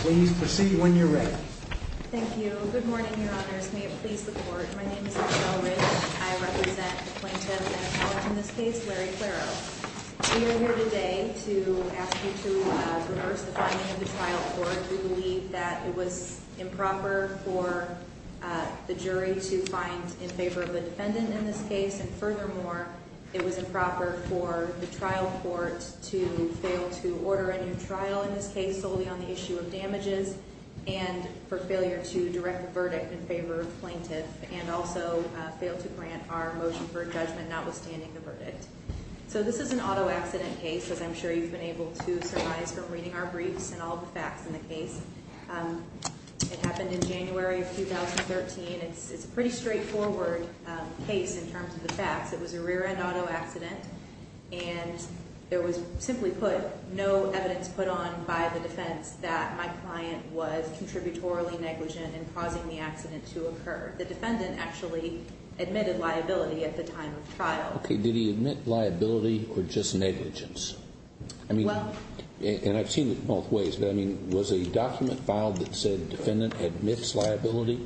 Please proceed when you're ready. Thank you. Good morning, your honors. May it please the court. My name is Michelle Riggs. I represent the plaintiffs and a college in this case, Larry Claro. We are here today to ask you to reverse the finding of the trial court. We believe that it was improper for the jury to find in favor of the defendant in this case. And furthermore, it was improper for the trial court to fail to order a new trial in this case solely on the issue of damages and for failure to direct the verdict in favor of the plaintiff and also fail to grant our motion for judgment notwithstanding the verdict. So this is an auto accident case, as I'm sure you've been able to surmise from reading our briefs and all the facts in the case. It happened in January of 2013. It's a pretty straightforward case in terms of the facts. It was a rear-end auto accident, and there was simply put no evidence put on by the defense that my client was contributorily negligent in causing the accident to occur. The defendant actually admitted liability at the time of trial. Okay, did he admit liability or just negligence? I mean, and I've seen it both ways, but I mean, was a document filed that said defendant admits liability?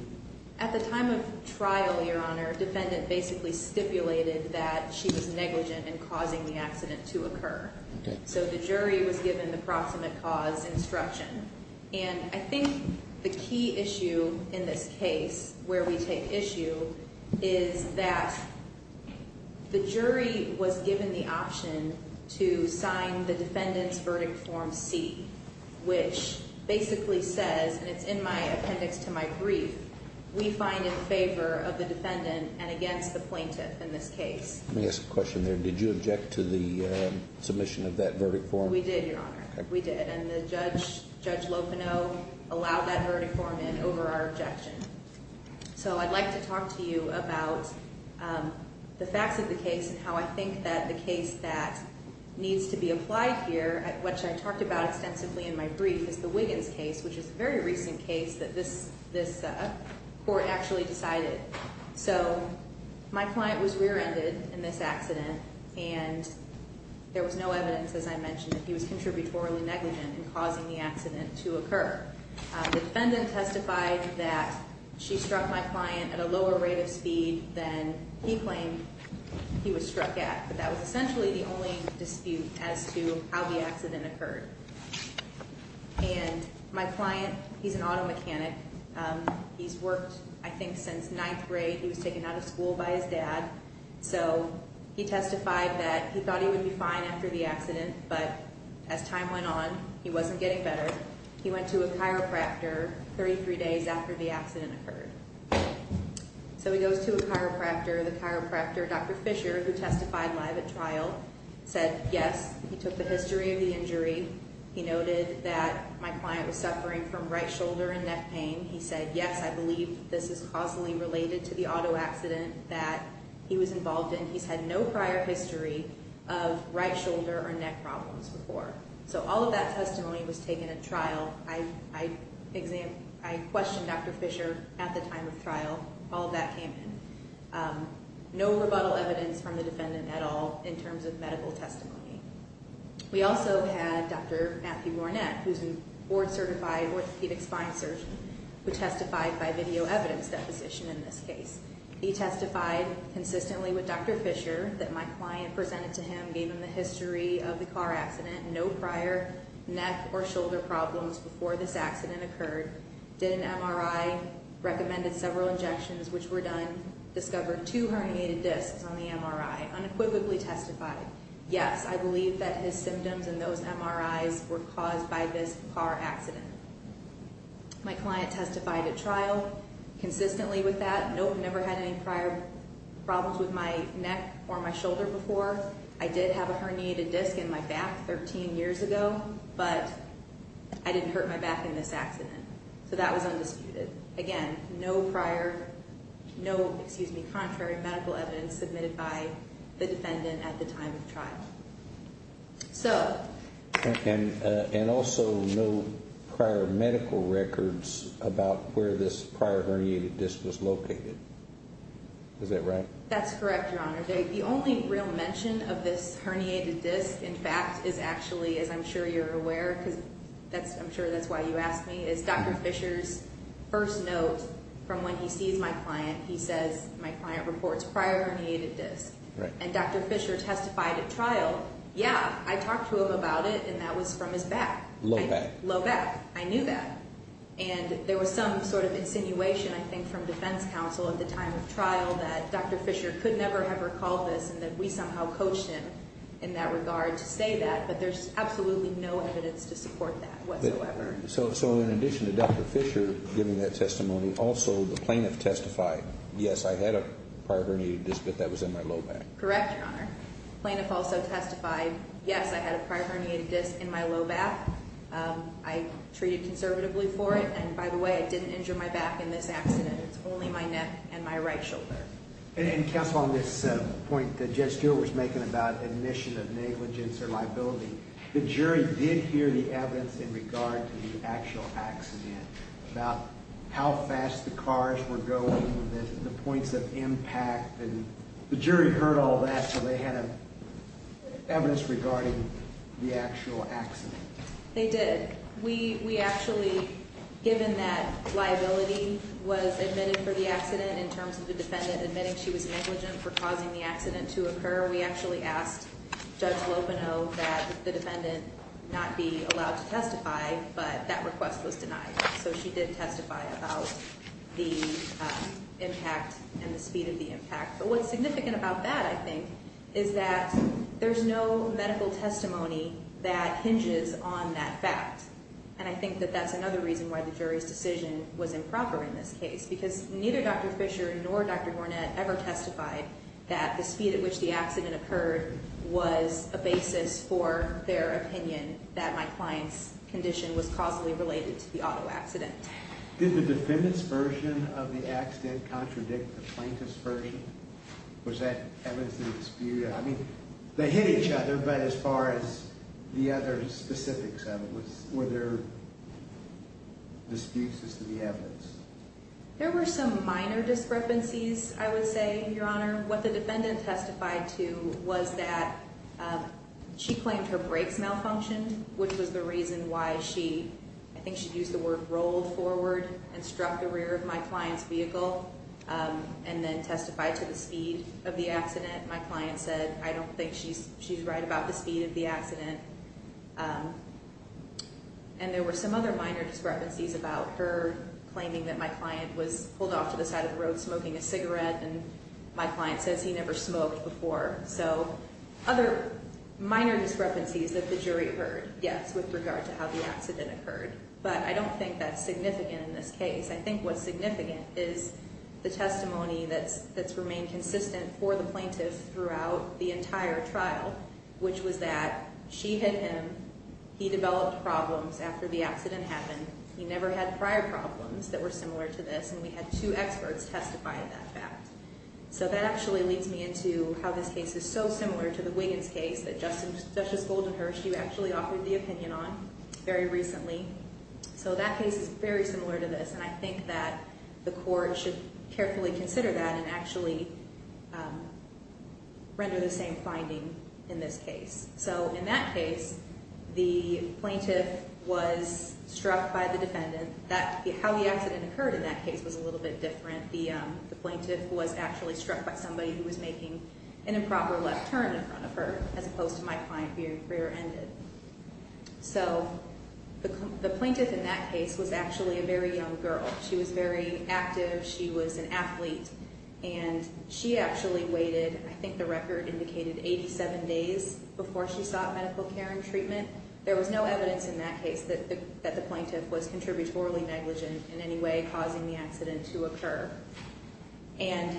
At the time of trial, Your Honor, defendant basically stipulated that she was negligent in causing the accident to occur. So the jury was given the proximate cause instruction. And I think the key issue in this case where we take issue is that the jury was given the option to sign the defendant's verdict form C, which basically says, and it's in my appendix to my brief, we find in favor of the defendant and against the plaintiff in this case. Let me ask a question there. Did you object to the submission of that verdict form? We did, Your Honor. We did. And Judge Lopino allowed that verdict form in over our objection. So I'd like to talk to you about the facts of the case and how I think that the case that needs to be applied here, which I talked about extensively in my brief, is the Wiggins case, which is a very recent case that this court actually decided. So my client was rear ended in this accident and there was no evidence, as I mentioned, that he was contributorily negligent in causing the accident to occur. The defendant testified that she struck my client at a lower rate of speed than he claimed he was struck at. But that was essentially the only dispute as to how the accident occurred. And my client, he's an auto mechanic. He's worked, I think, since ninth grade. He was taken out of school by his dad. So he testified that he thought he would be fine after the accident. But as time went on, he wasn't getting better. He went to a chiropractor 33 days after the accident occurred. So he goes to a chiropractor. The chiropractor, Dr. Fisher, who testified live at trial, said yes. He took the history of the injury. He noted that my client was suffering from right shoulder and neck pain. He said, yes, I believe this is causally related to the auto accident that he was involved in. He's had no prior history of right shoulder or neck problems before. So all of that testimony was taken at trial. I questioned Dr. Fisher at the time of trial. All of that came in. No rebuttal evidence from the defendant at all in terms of medical testimony. We also had Dr. Matthew Warnett, who's a board certified orthopedic spine surgeon, who testified by video evidence deposition in this case. He testified consistently with Dr. Fisher that my client presented to him, gave him the history of the car accident. No prior neck or shoulder problems before this accident occurred. Dr. Fisher did an MRI, recommended several injections, which were done, discovered two herniated discs on the MRI. Unequivocally testified, yes, I believe that his symptoms and those MRIs were caused by this car accident. My client testified at trial consistently with that. No, never had any prior problems with my neck or my shoulder before. I did have a herniated disc in my back 13 years ago, but I didn't hurt my back in this accident. So that was undisputed. Again, no prior, no, excuse me, contrary medical evidence submitted by the defendant at the time of trial. And also no prior medical records about where this prior herniated disc was located. Is that right? That's correct, Your Honor. The only real mention of this herniated disc, in fact, is actually, as I'm sure you're aware, because I'm sure that's why you asked me, is Dr. Fisher's first note from when he sees my client. He says, my client reports prior herniated disc. And Dr. Fisher testified at trial, yeah, I talked to him about it, and that was from his back. Low back. Low back. I knew that. And there was some sort of insinuation, I think, from defense counsel at the time of trial that Dr. Fisher could never have recalled this and that we somehow coached him in that regard to say that, but there's absolutely no evidence to support that whatsoever. So in addition to Dr. Fisher giving that testimony, also the plaintiff testified, yes, I had a prior herniated disc, but that was in my low back. Correct, Your Honor. Plaintiff also testified, yes, I had a prior herniated disc in my low back. I treated conservatively for it, and by the way, it didn't injure my back in this accident. It's only my neck and my right shoulder. And counsel, on this point that Judge Stewart was making about admission of negligence or liability, the jury did hear the evidence in regard to the actual accident about how fast the cars were going, the points of impact. And the jury heard all that, so they had evidence regarding the actual accident. They did. We actually, given that liability was admitted for the accident in terms of the defendant admitting she was negligent for causing the accident to occur, we actually asked Judge Lopeno that the defendant not be allowed to testify, but that request was denied. So she did testify about the impact and the speed of the impact. But what's significant about that, I think, is that there's no medical testimony that hinges on that fact, and I think that that's another reason why the jury's decision was improper in this case, because neither Dr. Fisher nor Dr. Gornett ever testified that the speed at which the accident occurred was a basis for their opinion that my client's condition was causally related to the auto accident. Did the defendant's version of the accident contradict the plaintiff's version? Was that evidence of dispute? I mean, they hit each other, but as far as the other specifics of it, were there disputes as to the evidence? There were some minor discrepancies, I would say, Your Honor. What the defendant testified to was that she claimed her brakes malfunctioned, which was the reason why she, I think she used the word, rolled forward and struck the rear of my client's vehicle and then testified to the speed of the accident. My client said, I don't think she's right about the speed of the accident. And there were some other minor discrepancies about her claiming that my client was pulled off to the side of the road smoking a cigarette and my client says he never smoked before. So other minor discrepancies that the jury heard, yes, with regard to how the accident occurred. But I don't think that's significant in this case. I think what's significant is the testimony that's remained consistent for the plaintiff throughout the entire trial, which was that she hit him, he developed problems after the accident happened, he never had prior problems that were similar to this, and we had two experts testify of that fact. So that actually leads me into how this case is so similar to the Wiggins case that Justice Goldenhurst, you actually offered the opinion on very recently. So that case is very similar to this, and I think that the court should carefully consider that and actually render the same finding in this case. So in that case, the plaintiff was struck by the defendant. How the accident occurred in that case was a little bit different. The plaintiff was actually struck by somebody who was making an improper left turn in front of her, as opposed to my client being rear-ended. So the plaintiff in that case was actually a very young girl. She was very active. She was an athlete. And she actually waited, I think the record indicated, 87 days before she sought medical care and treatment. There was no evidence in that case that the plaintiff was contributorily negligent in any way, causing the accident to occur. And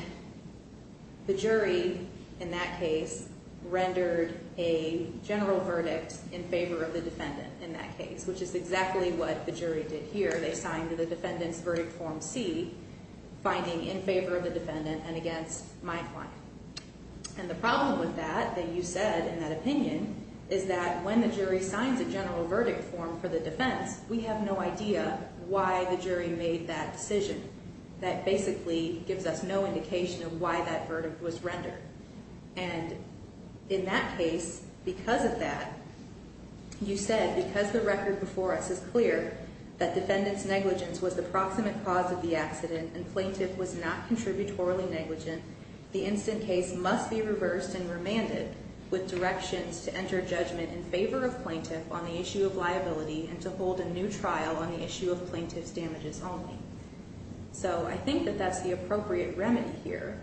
the jury in that case rendered a general verdict in favor of the defendant in that case, which is exactly what the jury did here. They signed the defendant's verdict form C, finding in favor of the defendant and against my client. And the problem with that, that you said in that opinion, is that when the jury signs a general verdict form for the defense, we have no idea why the jury made that decision. That basically gives us no indication of why that verdict was rendered. And in that case, because of that, you said, because the record before us is clear that defendant's negligence was the proximate cause of the accident and plaintiff was not contributorily negligent, the instant case must be reversed and remanded with directions to enter judgment in favor of plaintiff on the issue of liability and to hold a new trial on the issue of plaintiff's damages only. So I think that that's the appropriate remedy here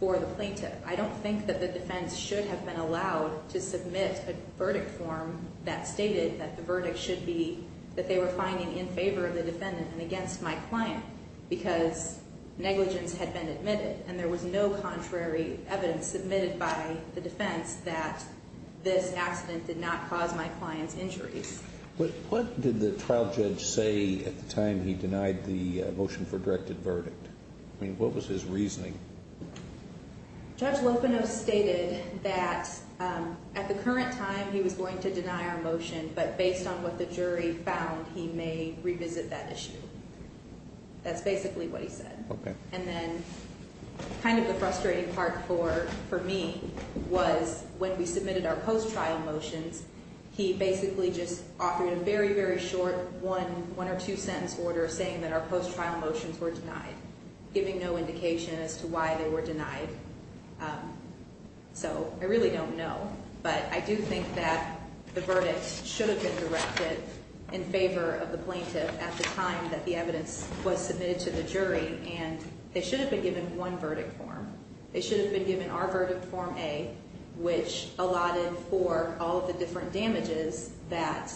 for the plaintiff. I don't think that the defense should have been allowed to submit a verdict form that stated that the verdict should be that they were finding in favor of the defendant and against my client because negligence had been admitted and there was no contrary evidence submitted by the defense that this accident did not cause my client's injuries. What did the trial judge say at the time he denied the motion for directed verdict? I mean, what was his reasoning? Judge Lopenos stated that at the current time he was going to deny our motion, but based on what the jury found, he may revisit that issue. That's basically what he said. And then kind of the frustrating part for me was when we submitted our post-trial motions, he basically just offered a very, very short one or two-sentence order saying that our post-trial motions were denied, giving no indication as to why they were denied. So I really don't know, but I do think that the verdict should have been directed in favor of the plaintiff at the time that the evidence was submitted to the jury, and they should have been given one verdict form. They should have been given our verdict form A, which allotted for all of the different damages that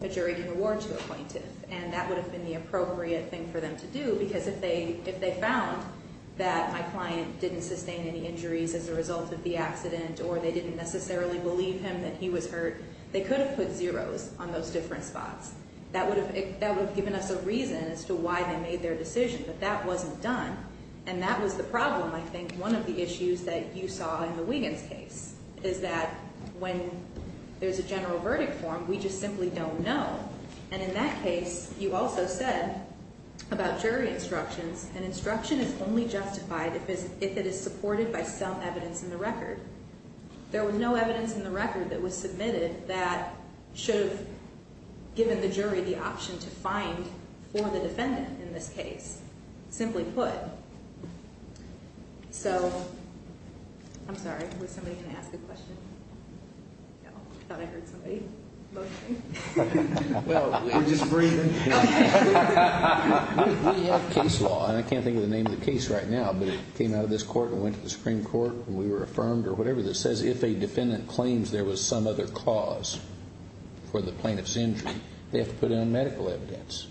a jury can award to a plaintiff. And that would have been the appropriate thing for them to do, because if they found that my client didn't sustain any injuries as a result of the accident or they didn't necessarily believe him that he was hurt, they could have put zeros on those different spots. That would have given us a reason as to why they made their decision, but that wasn't done. And that was the problem, I think, one of the issues that you saw in the Wiggins case, is that when there's a general verdict form, we just simply don't know. And in that case, you also said about jury instructions, an instruction is only justified if it is supported by some evidence in the record. There was no evidence in the record that was submitted that should have given the jury the option to find for the defendant in this case, simply put. So, I'm sorry, was somebody going to ask a question? No, I thought I heard somebody motioning. Well, we're just breathing. We have case law, and I can't think of the name of the case right now, but it came out of this court and went to the Supreme Court, and we were affirmed, or whatever, that says if a defendant claims there was some other cause for the plaintiff's injury, they have to put in medical evidence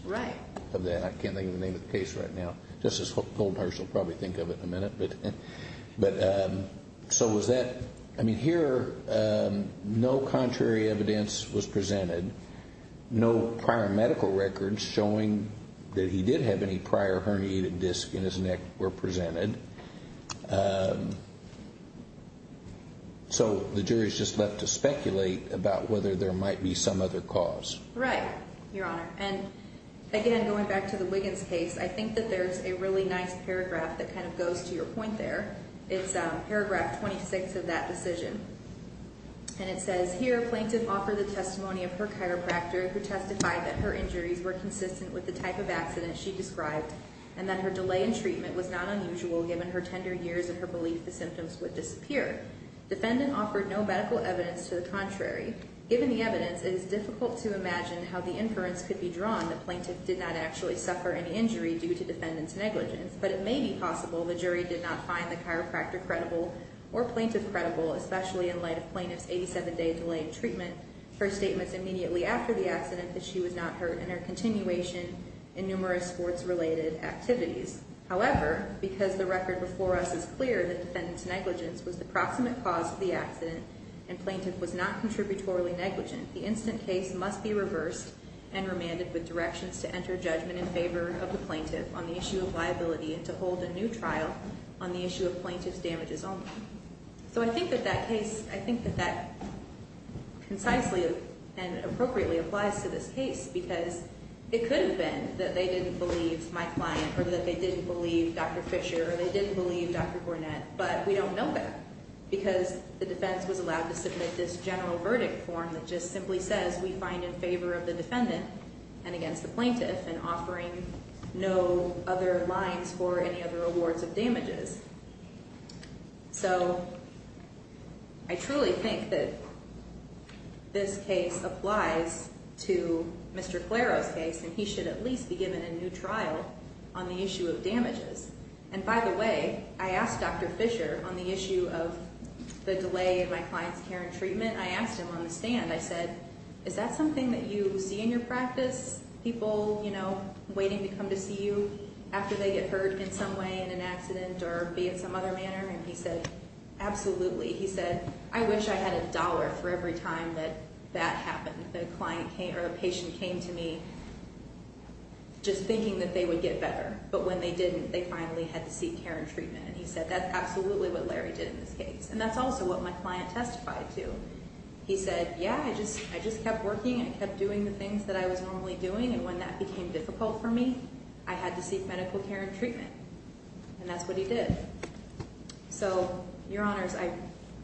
of that. I can't think of the name of the case right now. Justice Goldmeier will probably think of it in a minute. So was that, I mean, here, no contrary evidence was presented, no prior medical records showing that he did have any prior herniated discs in his neck were presented. So the jury is just left to speculate about whether there might be some other cause. Right, Your Honor. And, again, going back to the Wiggins case, I think that there's a really nice paragraph that kind of goes to your point there. It's paragraph 26 of that decision, and it says, Here, plaintiff offered the testimony of her chiropractor, who testified that her injuries were consistent with the type of accident she described and that her delay in treatment was not unusual given her tender years and her belief the symptoms would disappear. Defendant offered no medical evidence to the contrary. Given the evidence, it is difficult to imagine how the inference could be drawn that plaintiff did not actually suffer any injury due to defendant's negligence. But it may be possible the jury did not find the chiropractor credible or plaintiff credible, especially in light of plaintiff's 87-day delay in treatment, her statements immediately after the accident that she was not hurt, and her continuation in numerous sports-related activities. However, because the record before us is clear that defendant's negligence was the proximate cause of the accident and plaintiff was not contributorily negligent, the instant case must be reversed and remanded with directions to enter judgment in favor of the plaintiff on the issue of liability and to hold a new trial on the issue of plaintiff's damages only. So I think that that case, I think that that concisely and appropriately applies to this case because it could have been that they didn't believe my client or that they didn't believe Dr. Fisher or they didn't believe Dr. Gornett, but we don't know that because the defense was allowed to submit this general verdict form that just simply says we find in favor of the defendant and against the plaintiff and offering no other lines for any other awards of damages. So I truly think that this case applies to Mr. Claro's case, and he should at least be given a new trial on the issue of damages. And by the way, I asked Dr. Fisher on the issue of the delay in my client's care and treatment. I asked him on the stand, I said, is that something that you see in your practice, people, you know, waiting to come to see you after they get hurt in some way, in an accident or be it some other manner? And he said, absolutely. He said, I wish I had a dollar for every time that that happened, that a client came or a patient came to me just thinking that they would get better, but when they didn't, they finally had to seek care and treatment. And he said, that's absolutely what Larry did in this case. And that's also what my client testified to. He said, yeah, I just kept working and I kept doing the things that I was normally doing, and when that became difficult for me, I had to seek medical care and treatment. And that's what he did. So, Your Honors, I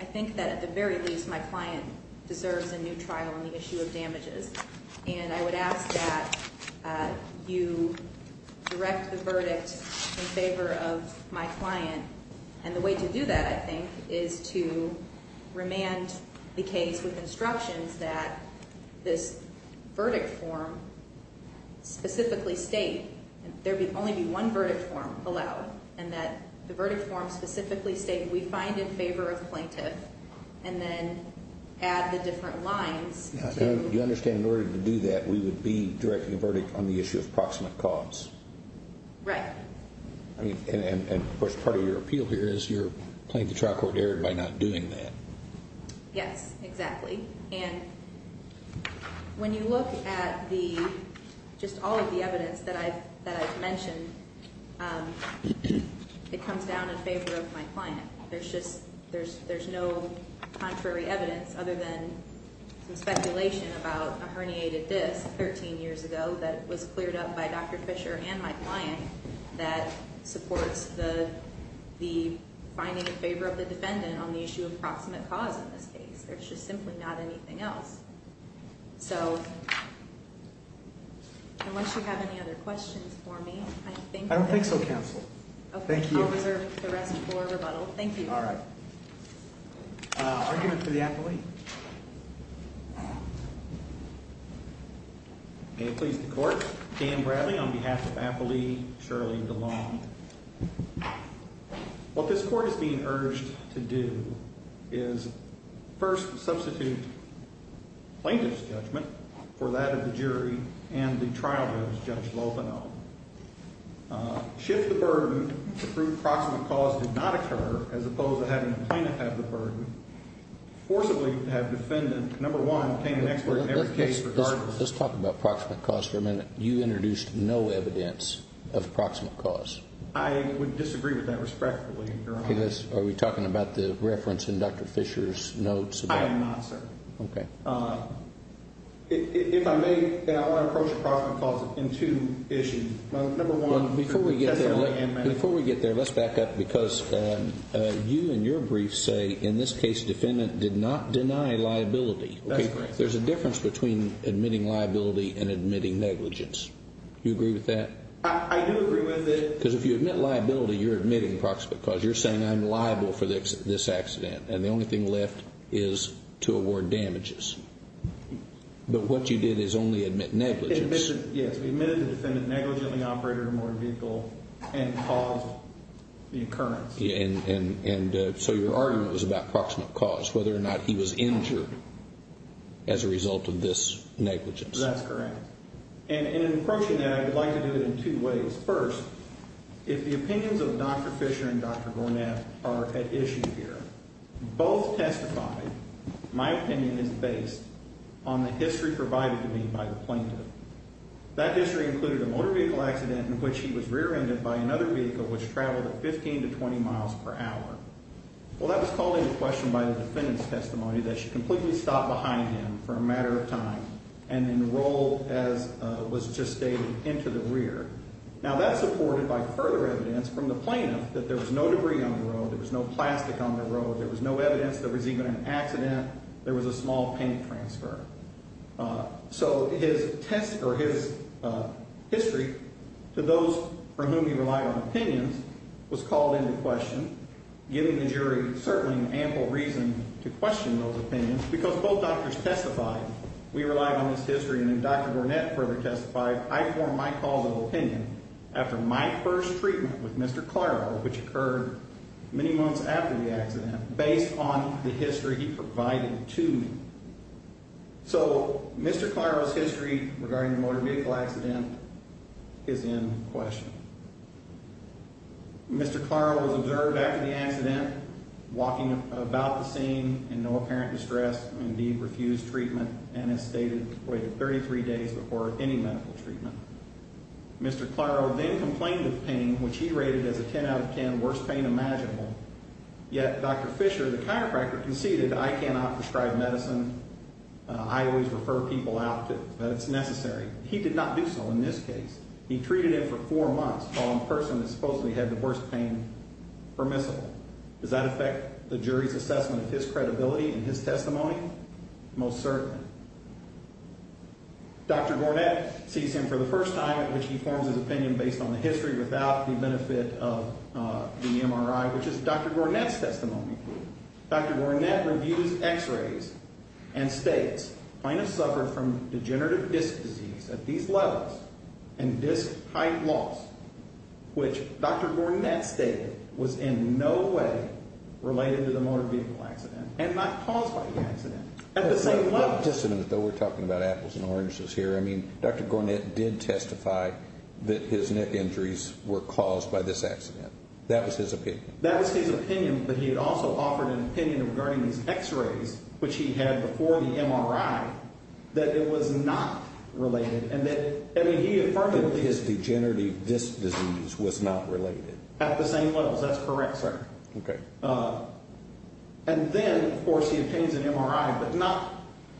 think that at the very least my client deserves a new trial on the issue of damages. And I would ask that you direct the verdict in favor of my client. And the way to do that, I think, is to remand the case with instructions that this verdict form specifically state, there would only be one verdict form allowed, and that the verdict form specifically state we find in favor of the plaintiff, and then add the different lines. You understand in order to do that, we would be directing a verdict on the issue of proximate cause? Right. And, of course, part of your appeal here is you're playing the trial court error by not doing that. Yes, exactly. And when you look at just all of the evidence that I've mentioned, it comes down in favor of my client. There's no contrary evidence other than some speculation about a herniated disc 13 years ago that was cleared up by Dr. Fisher and my client that supports the finding in favor of the defendant on the issue of proximate cause in this case. There's just simply not anything else. So, unless you have any other questions for me, I think that... I don't think so, Counsel. Okay, I'll reserve the rest for rebuttal. Thank you. All right. Argument for the appellee. May it please the Court. Dan Bradley on behalf of Appellee Shirley DeLong. What this Court is being urged to do is first substitute plaintiff's judgment for that of the jury and the trial judge, Judge Lopino. Shift the burden to prove proximate cause did not occur as opposed to having the plaintiff have the burden. Forcibly have defendant, number one, obtain an expert in every case regardless. Let's talk about proximate cause for a minute. You introduced no evidence of proximate cause. I would disagree with that respectfully, Your Honor. Are we talking about the reference in Dr. Fisher's notes? I am not, sir. Okay. If I may, I want to approach proximate cause in two issues. Before we get there, let's back up because you in your brief say in this case defendant did not deny liability. That's correct. There's a difference between admitting liability and admitting negligence. Do you agree with that? I do agree with it. Because if you admit liability, you're admitting proximate cause. You're saying I'm liable for this accident, and the only thing left is to award damages. But what you did is only admit negligence. Yes, we admitted the defendant negligently operated a motor vehicle and caused the occurrence. And so your argument was about proximate cause, whether or not he was injured as a result of this negligence. That's correct. And in approaching that, I would like to do it in two ways. First, if the opinions of Dr. Fisher and Dr. Gornath are at issue here, both testified, my opinion is based on the history provided to me by the plaintiff. That history included a motor vehicle accident in which he was rear-ended by another vehicle which traveled at 15 to 20 miles per hour. Well, that was called into question by the defendant's testimony that she completely stopped behind him for a matter of time and then rolled, as was just stated, into the rear. Now, that's supported by further evidence from the plaintiff that there was no debris on the road, there was no plastic on the road, there was no evidence there was even an accident, there was a small paint transfer. So his test or his history to those from whom he relied on opinions was called into question, giving the jury certainly an ample reason to question those opinions because both doctors testified. We relied on his history, and then Dr. Gornath further testified, I form my causal opinion after my first treatment with Mr. Claro, which occurred many months after the accident, based on the history he provided to me. So Mr. Claro's history regarding the motor vehicle accident is in question. Mr. Claro was observed after the accident, walking about the scene in no apparent distress, indeed refused treatment and, as stated, waited 33 days before any medical treatment. Mr. Claro then complained of pain, which he rated as a 10 out of 10 worst pain imaginable, yet Dr. Fisher, the chiropractor, conceded I cannot prescribe medicine, I always refer people out that it's necessary. He did not do so in this case. He treated him for four months while in person and supposedly had the worst pain permissible. Does that affect the jury's assessment of his credibility in his testimony? Most certainly. Dr. Gornath sees him for the first time at which he forms his opinion based on the history without the benefit of the MRI, which is Dr. Gornath's testimony. Dr. Gornath reviews x-rays and states, plaintiff suffered from degenerative disc disease at these levels and disc height loss, which Dr. Gornath stated was in no way related to the motor vehicle accident and not caused by the accident, at the same level. Just a minute, though, we're talking about apples and oranges here. I mean, Dr. Gornath did testify that his neck injuries were caused by this accident. That was his opinion. But he had also offered an opinion regarding his x-rays, which he had before the MRI, that it was not related. And then he affirmed that his degenerative disc disease was not related. At the same levels. That's correct, sir. Okay. And then, of course, he obtains an MRI, but not.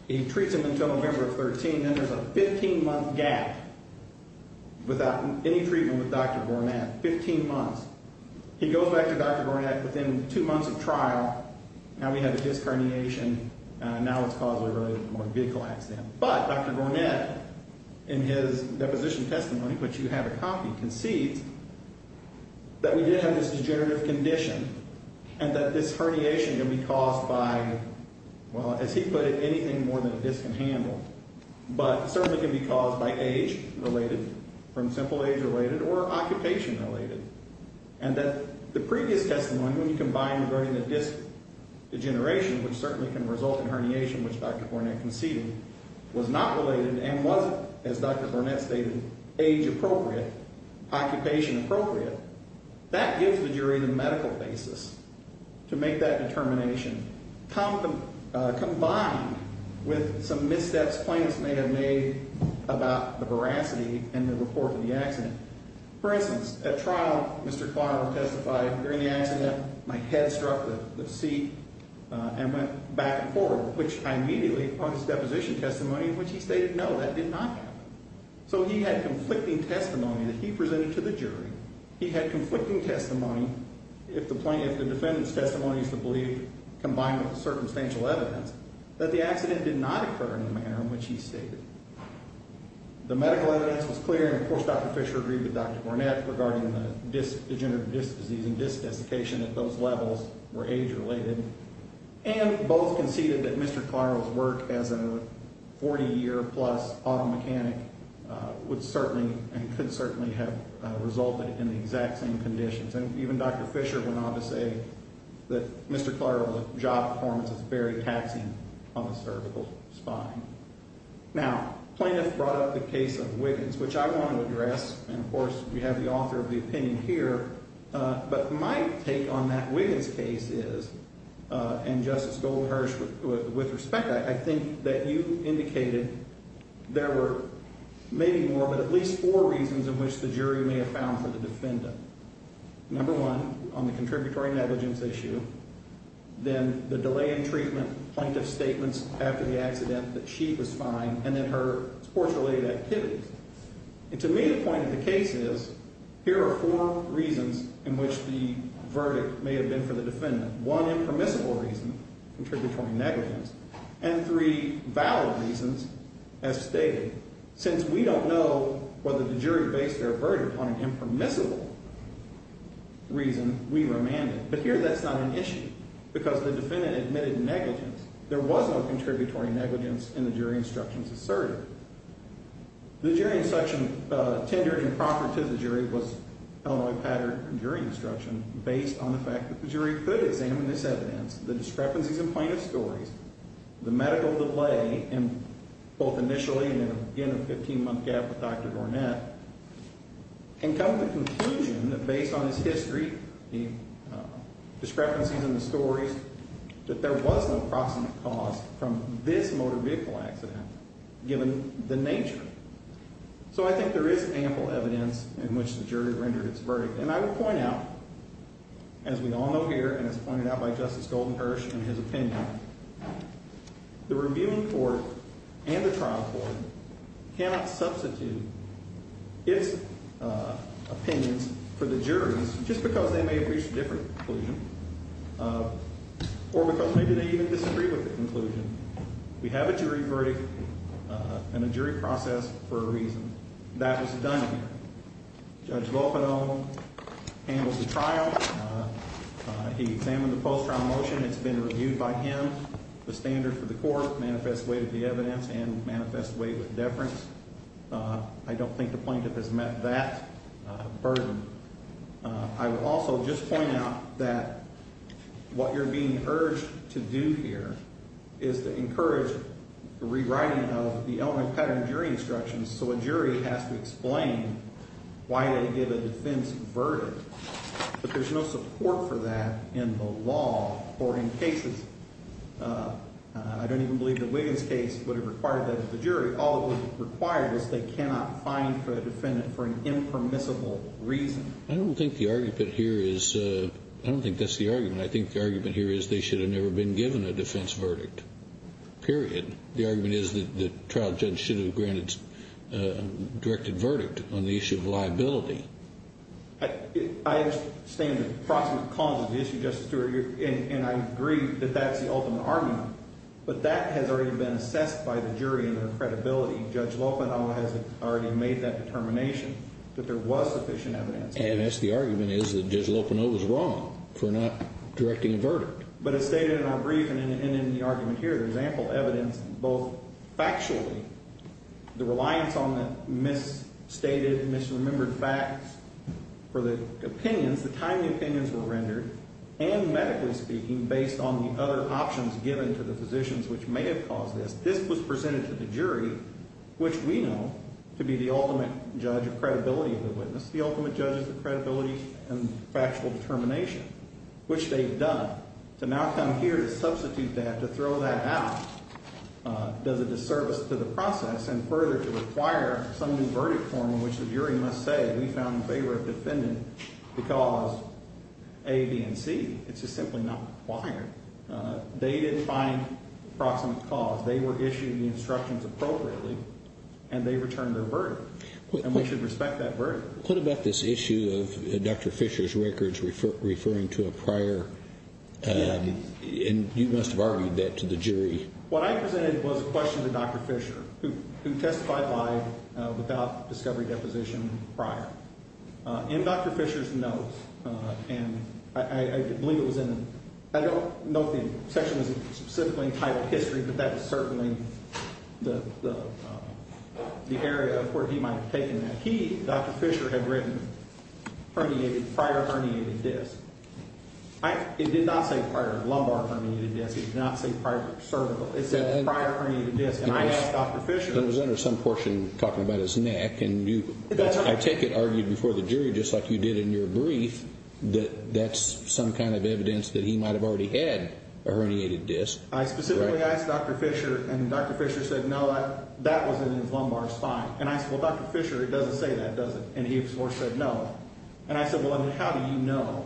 He treats him until November 13. Then there's a 15-month gap without any treatment with Dr. Gornath. Fifteen months. He goes back to Dr. Gornath within two months of trial. Now we have a disc herniation. Now it's caused by a motor vehicle accident. But Dr. Gornath, in his deposition testimony, which you have a copy, concedes that we did have this degenerative condition and that this herniation can be caused by, well, as he put it, anything more than a disc and handle. But it certainly can be caused by age-related, from simple age-related, or occupation-related. And that the previous testimony, when you combine regarding the disc degeneration, which certainly can result in herniation, which Dr. Gornath conceded was not related and wasn't, as Dr. Gornath stated, age-appropriate, occupation-appropriate, that gives the jury the medical basis to make that determination, combined with some missteps plaintiffs may have made about the veracity in the report of the accident. For instance, at trial, Mr. Kvarner testified, during the accident, my head struck the seat and went back and forth, which I immediately, on his deposition testimony, which he stated, no, that did not happen. So he had conflicting testimony that he presented to the jury. He had conflicting testimony, if the defendant's testimony is to believe, combined with the circumstantial evidence, that the accident did not occur in the manner in which he stated. The medical evidence was clear, and of course Dr. Fisher agreed with Dr. Gornath regarding the disc, degenerative disc disease and disc desiccation at those levels were age-related. And both conceded that Mr. Klarow's work as a 40-year-plus auto mechanic would certainly and could certainly have resulted in the exact same conditions. And even Dr. Fisher went on to say that Mr. Klarow's job performance is very taxing on the cervical spine. Now, plaintiffs brought up the case of Wiggins, which I want to address, and of course we have the author of the opinion here. But my take on that Wiggins case is, and Justice Goldhurst, with respect, I think that you indicated there were maybe more but at least four reasons in which the jury may have found for the defendant. Number one, on the contributory negligence issue, then the delay in treatment, plaintiff's statements after the accident that she was fine, and then her sports-related activities. And to me, the point of the case is, here are four reasons in which the verdict may have been for the defendant. One impermissible reason, contributory negligence, and three valid reasons, as stated. Since we don't know whether the jury based their verdict on an impermissible reason, we remanded. But here that's not an issue because the defendant admitted negligence. There was no contributory negligence in the jury instructions asserted. The jury instruction tendered and proffered to the jury was Illinois pattern jury instruction based on the fact that the jury could examine this evidence, the discrepancies in plaintiff's stories, the medical delay, both initially and in a 15-month gap with Dr. Dornett, and come to the conclusion that based on his history, the discrepancies in the stories, that there was no proximate cause from this motor vehicle accident, given the nature. So I think there is ample evidence in which the jury rendered its verdict. And I would point out, as we all know here and as pointed out by Justice Goldenhirsch in his opinion, the reviewing court and the trial court cannot substitute its opinions for the jury's, just because they may have reached a different conclusion, or because maybe they even disagree with the conclusion. We have a jury verdict and a jury process for a reason. That was done here. Judge Lofedo handles the trial. He examined the post-trial motion. It's been reviewed by him. The standard for the court manifests weight of the evidence and manifests weight with deference. I don't think the plaintiff has met that burden. I would also just point out that what you're being urged to do here is to encourage the rewriting of the Illinois pattern jury instructions, so a jury has to explain why they give a defense verdict. But there's no support for that in the law or in cases. I don't even believe that Wiggins' case would have required that of the jury. All it would have required is they cannot fine the defendant for an impermissible reason. I don't think the argument here is they should have never been given a defense verdict, period. The argument is that the trial judge should have granted a directed verdict on the issue of liability. I understand the proximate cause of the issue, Justice Stewart, and I agree that that's the ultimate argument. But that has already been assessed by the jury and their credibility. Judge Lofedo has already made that determination that there was sufficient evidence. And the argument is that Judge Lofedo was wrong for not directing a verdict. But as stated in our briefing and in the argument here, there's ample evidence, both factually, the reliance on the misstated, misremembered facts for the opinions, the time the opinions were rendered, and medically speaking, based on the other options given to the physicians which may have caused this. This was presented to the jury, which we know to be the ultimate judge of credibility of the witness, the ultimate judges of credibility and factual determination, which they've done. To now come here to substitute that, to throw that out, does a disservice to the process, and further to require some new verdict form in which the jury must say, we found in favor of defendant because A, B, and C. It's just simply not required. They didn't find proximate cause. They were issued the instructions appropriately, and they returned their verdict. And we should respect that verdict. What about this issue of Dr. Fisher's records referring to a prior, and you must have argued that to the jury. What I presented was a question to Dr. Fisher, who testified live without discovery deposition prior. In Dr. Fisher's notes, and I believe it was in, I don't know if the section was specifically entitled history, but that was certainly the area of where he might have taken that. He, Dr. Fisher, had written prior herniated disc. It did not say prior lumbar herniated disc. It did not say prior cervical. It said prior herniated disc, and I asked Dr. Fisher. It was under some portion talking about his neck, and I take it argued before the jury, just like you did in your brief, that that's some kind of evidence that he might have already had a herniated disc. I specifically asked Dr. Fisher, and Dr. Fisher said, no, that was in his lumbar spine. And I said, well, Dr. Fisher, it doesn't say that, does it? And he, of course, said no. And I said, well, then how do you know?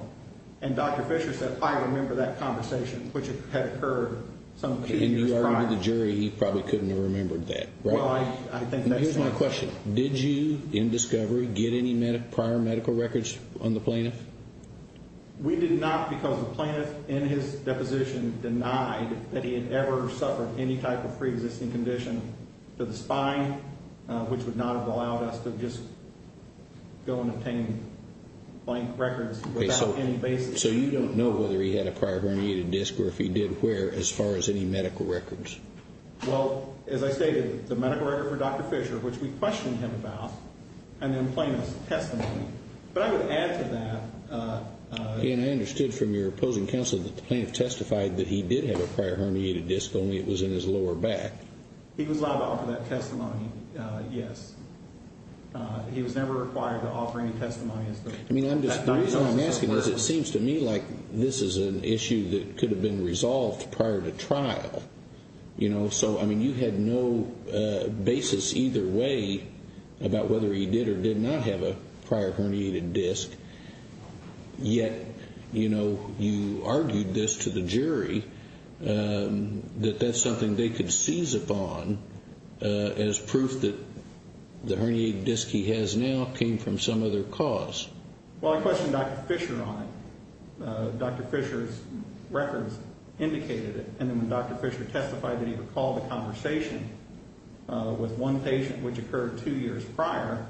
And Dr. Fisher said, I remember that conversation, which had occurred some two years prior. And you argued to the jury he probably couldn't have remembered that, right? Well, I think that's true. Here's my question. Did you, in discovery, get any prior medical records on the plaintiff? We did not because the plaintiff, in his deposition, denied that he had ever suffered any type of preexisting condition to the spine, which would not have allowed us to just go and obtain blank records without any basis. So you don't know whether he had a prior herniated disc or if he did wear as far as any medical records? Well, as I stated, the medical record for Dr. Fisher, which we questioned him about, and then plaintiff's testimony. But I would add to that. Again, I understood from your opposing counsel that the plaintiff testified that he did have a prior herniated disc, only it was in his lower back. He was allowed to offer that testimony, yes. He was never required to offer any testimony. I mean, the reason I'm asking is it seems to me like this is an issue that could have been resolved prior to trial. So, I mean, you had no basis either way about whether he did or did not have a prior herniated disc. Yet, you know, you argued this to the jury that that's something they could seize upon as proof that the herniated disc he has now came from some other cause. Well, I questioned Dr. Fisher on it. Dr. Fisher's records indicated it. And then when Dr. Fisher testified that he recalled the conversation with one patient, which occurred two years prior,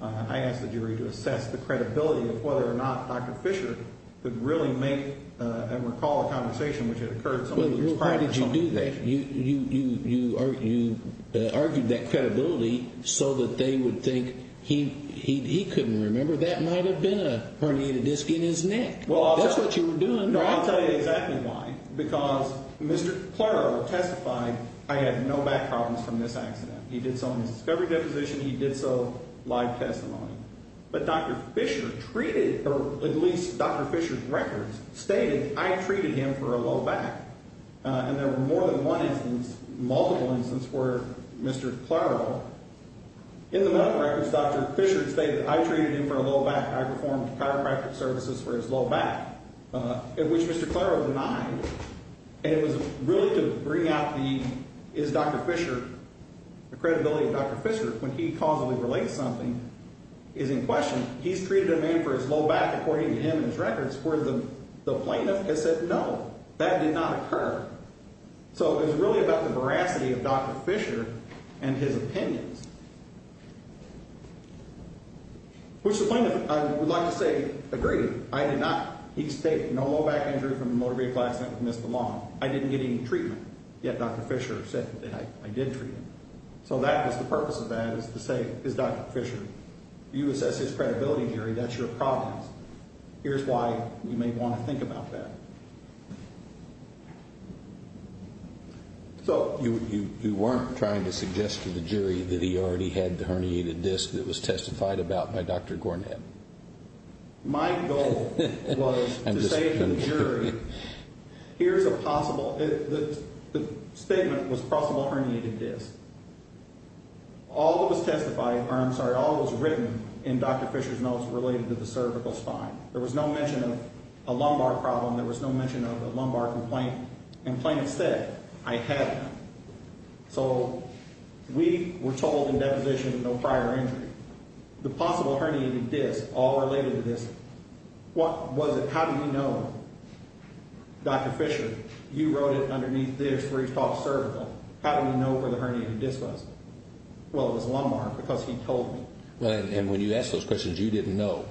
I asked the jury to assess the credibility of whether or not Dr. Fisher could really make and recall a conversation which had occurred some years prior. Well, why did you do that? You argued that credibility so that they would think he couldn't remember. That might have been a herniated disc in his neck. That's what you were doing. No, I'll tell you exactly why. Because Mr. Pleurer testified I had no back problems from this accident. He did so in his discovery deposition. He did so live testimony. But Dr. Fisher treated, or at least Dr. Fisher's records stated I treated him for a low back. And there were more than one instance, multiple instances, where Mr. Pleurer, in the medical records, Dr. Fisher stated I treated him for a low back. I performed chiropractic services for his low back, which Mr. Pleurer denied. And it was really to bring out the, is Dr. Fisher, the credibility of Dr. Fisher when he causally relates something is in question. He's treated a man for his low back, according to him and his records, where the plaintiff has said no, that did not occur. So it was really about the veracity of Dr. Fisher and his opinions. Which the plaintiff, I would like to say, agreed. I did not. He stated no low back injury from a motor vehicle accident with Mr. Long. I didn't get any treatment. Yet Dr. Fisher said that I did treat him. So that was the purpose of that, is to say, is Dr. Fisher, you assess his credibility, Jerry, that's your problem. Here's why you may want to think about that. So you weren't trying to suggest to the jury that he already had the herniated disc that was testified about by Dr. Gornett? My goal was to say to the jury, here's a possible, the statement was possible herniated disc. All that was testified, or I'm sorry, all that was written in Dr. Fisher's notes related to the cervical spine. There was no mention of a lumbar problem. There was no mention of a lumbar complaint. And the plaintiff said, I have none. So we were told in that position no prior injury. The possible herniated disc, all related to this, what was it, how do you know, Dr. Fisher, you wrote it underneath this where he talked cervical. How do you know where the herniated disc was? Well, it was lumbar because he told me. And when you asked those questions, you didn't know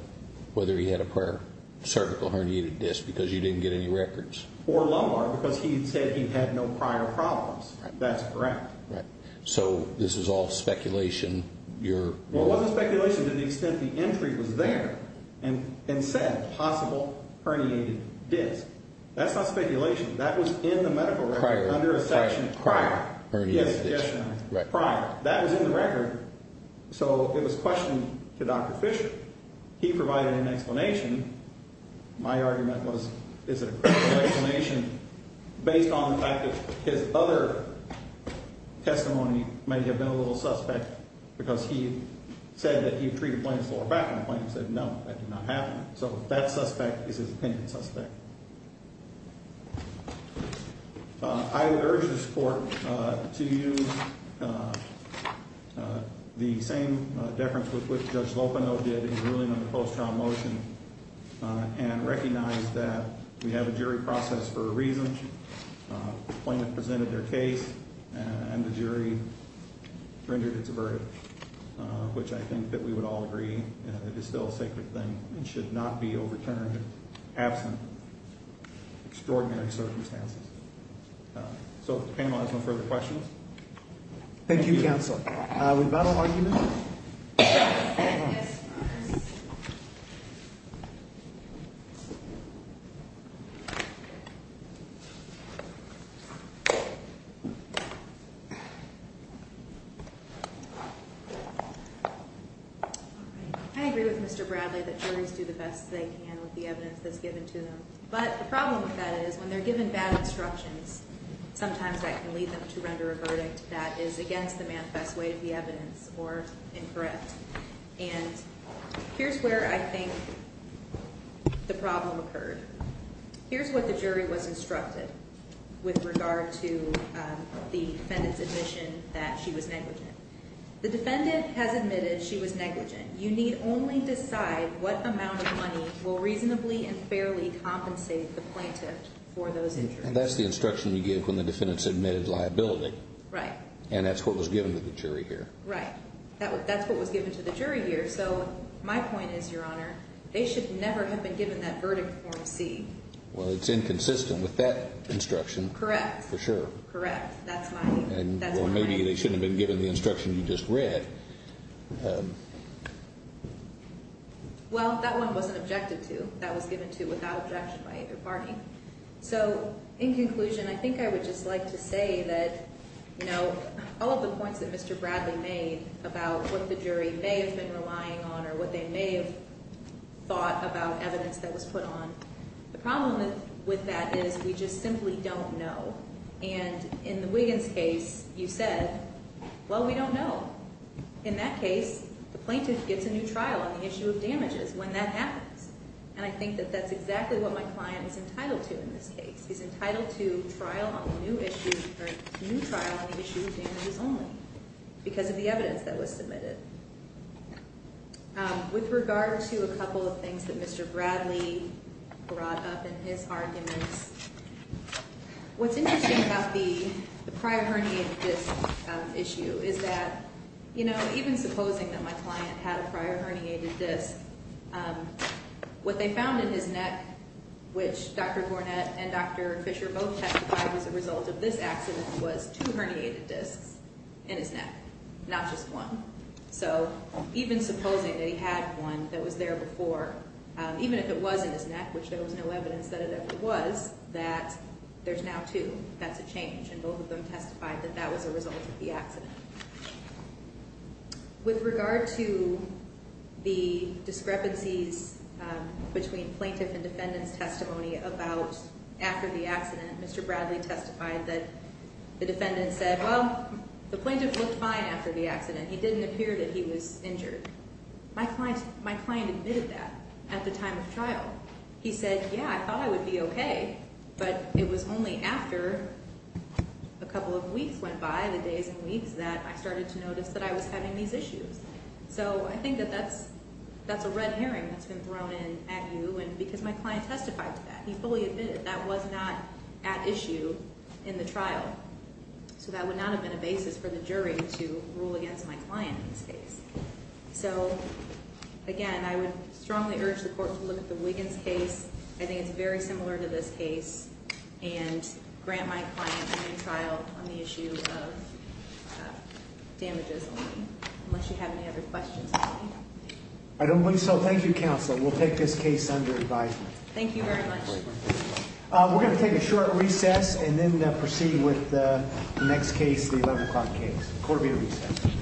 whether he had a prior cervical herniated disc because you didn't get any records? Or lumbar because he said he had no prior problems. That's correct. Right. So this is all speculation. Well, it wasn't speculation to the extent the entry was there and said possible herniated disc. That's not speculation. That was in the medical record under a section prior. Herniated disc. Prior. That was in the record. So it was questioned to Dr. Fisher. He provided an explanation. My argument was, is it a correct explanation based on the fact that his other testimony may have been a little suspect because he said that he had treated plaintiffs lower back when the plaintiff said no, that did not happen. So that suspect is his opinion suspect. I would urge this Court to use the same deference with which Judge Lopeno did in ruling on the post-trial motion and recognize that we have a jury process for a reason. The plaintiff presented their case and the jury rendered its verdict, which I think that we would all agree is still a sacred thing. It should not be overturned absent extraordinary circumstances. So if the panel has no further questions. Thank you, Counsel. We've got an argument? Yes. I agree with Mr. Bradley that juries do the best they can with the evidence that's given to them. But the problem with that is when they're given bad instructions, sometimes that can lead them to render a verdict that is against the manifest way of the evidence or incorrect. And here's where I think the problem occurred. Here's what the jury was instructed with regard to the defendant's admission that she was negligent. The defendant has admitted she was negligent. You need only decide what amount of money will reasonably and fairly compensate the plaintiff for those injuries. And that's the instruction you give when the defendant submitted liability. Right. And that's what was given to the jury here. Right. That's what was given to the jury here. So my point is, Your Honor, they should never have been given that verdict form C. Well, it's inconsistent with that instruction. Correct. For sure. Correct. That's my point. Or maybe they shouldn't have been given the instruction you just read. Well, that one wasn't objected to. That was given to without objection by either party. So in conclusion, I think I would just like to say that, you know, all of the points that Mr. Bradley made about what the jury may have been relying on or what they may have thought about evidence that was put on, the problem with that is we just simply don't know. And in the Wiggins case, you said, well, we don't know. In that case, the plaintiff gets a new trial on the issue of damages when that happens. And I think that that's exactly what my client is entitled to in this case. He's entitled to trial on a new issue or a new trial on the issue of damages only because of the evidence that was submitted. With regard to a couple of things that Mr. Bradley brought up in his arguments, what's interesting about the prior herniated disc issue is that, you know, even supposing that my client had a prior herniated disc, what they found in his neck, which Dr. Gornett and Dr. Fisher both testified was a result of this accident, was two herniated discs in his neck, not just one. So even supposing that he had one that was there before, even if it was in his neck, which there was no evidence that it ever was, that there's now two. That's a change. And both of them testified that that was a result of the accident. With regard to the discrepancies between plaintiff and defendant's testimony about after the accident, Mr. Bradley testified that the defendant said, well, the plaintiff looked fine after the accident. He didn't appear that he was injured. My client admitted that at the time of trial. He said, yeah, I thought I would be okay. But it was only after a couple of weeks went by, the days and weeks, that I started to notice that I was having these issues. So I think that that's a red herring that's been thrown in at you because my client testified to that. He fully admitted that was not at issue in the trial. So that would not have been a basis for the jury to rule against my client in this case. So, again, I would strongly urge the court to look at the Wiggins case. I think it's very similar to this case and grant my client a new trial on the issue of damages only, unless you have any other questions. I don't believe so. Thank you, Counsel. We'll take this case under advisement. Thank you very much. We're going to take a short recess and then proceed with the next case, the 11 o'clock case. Court will be at recess. Thank you.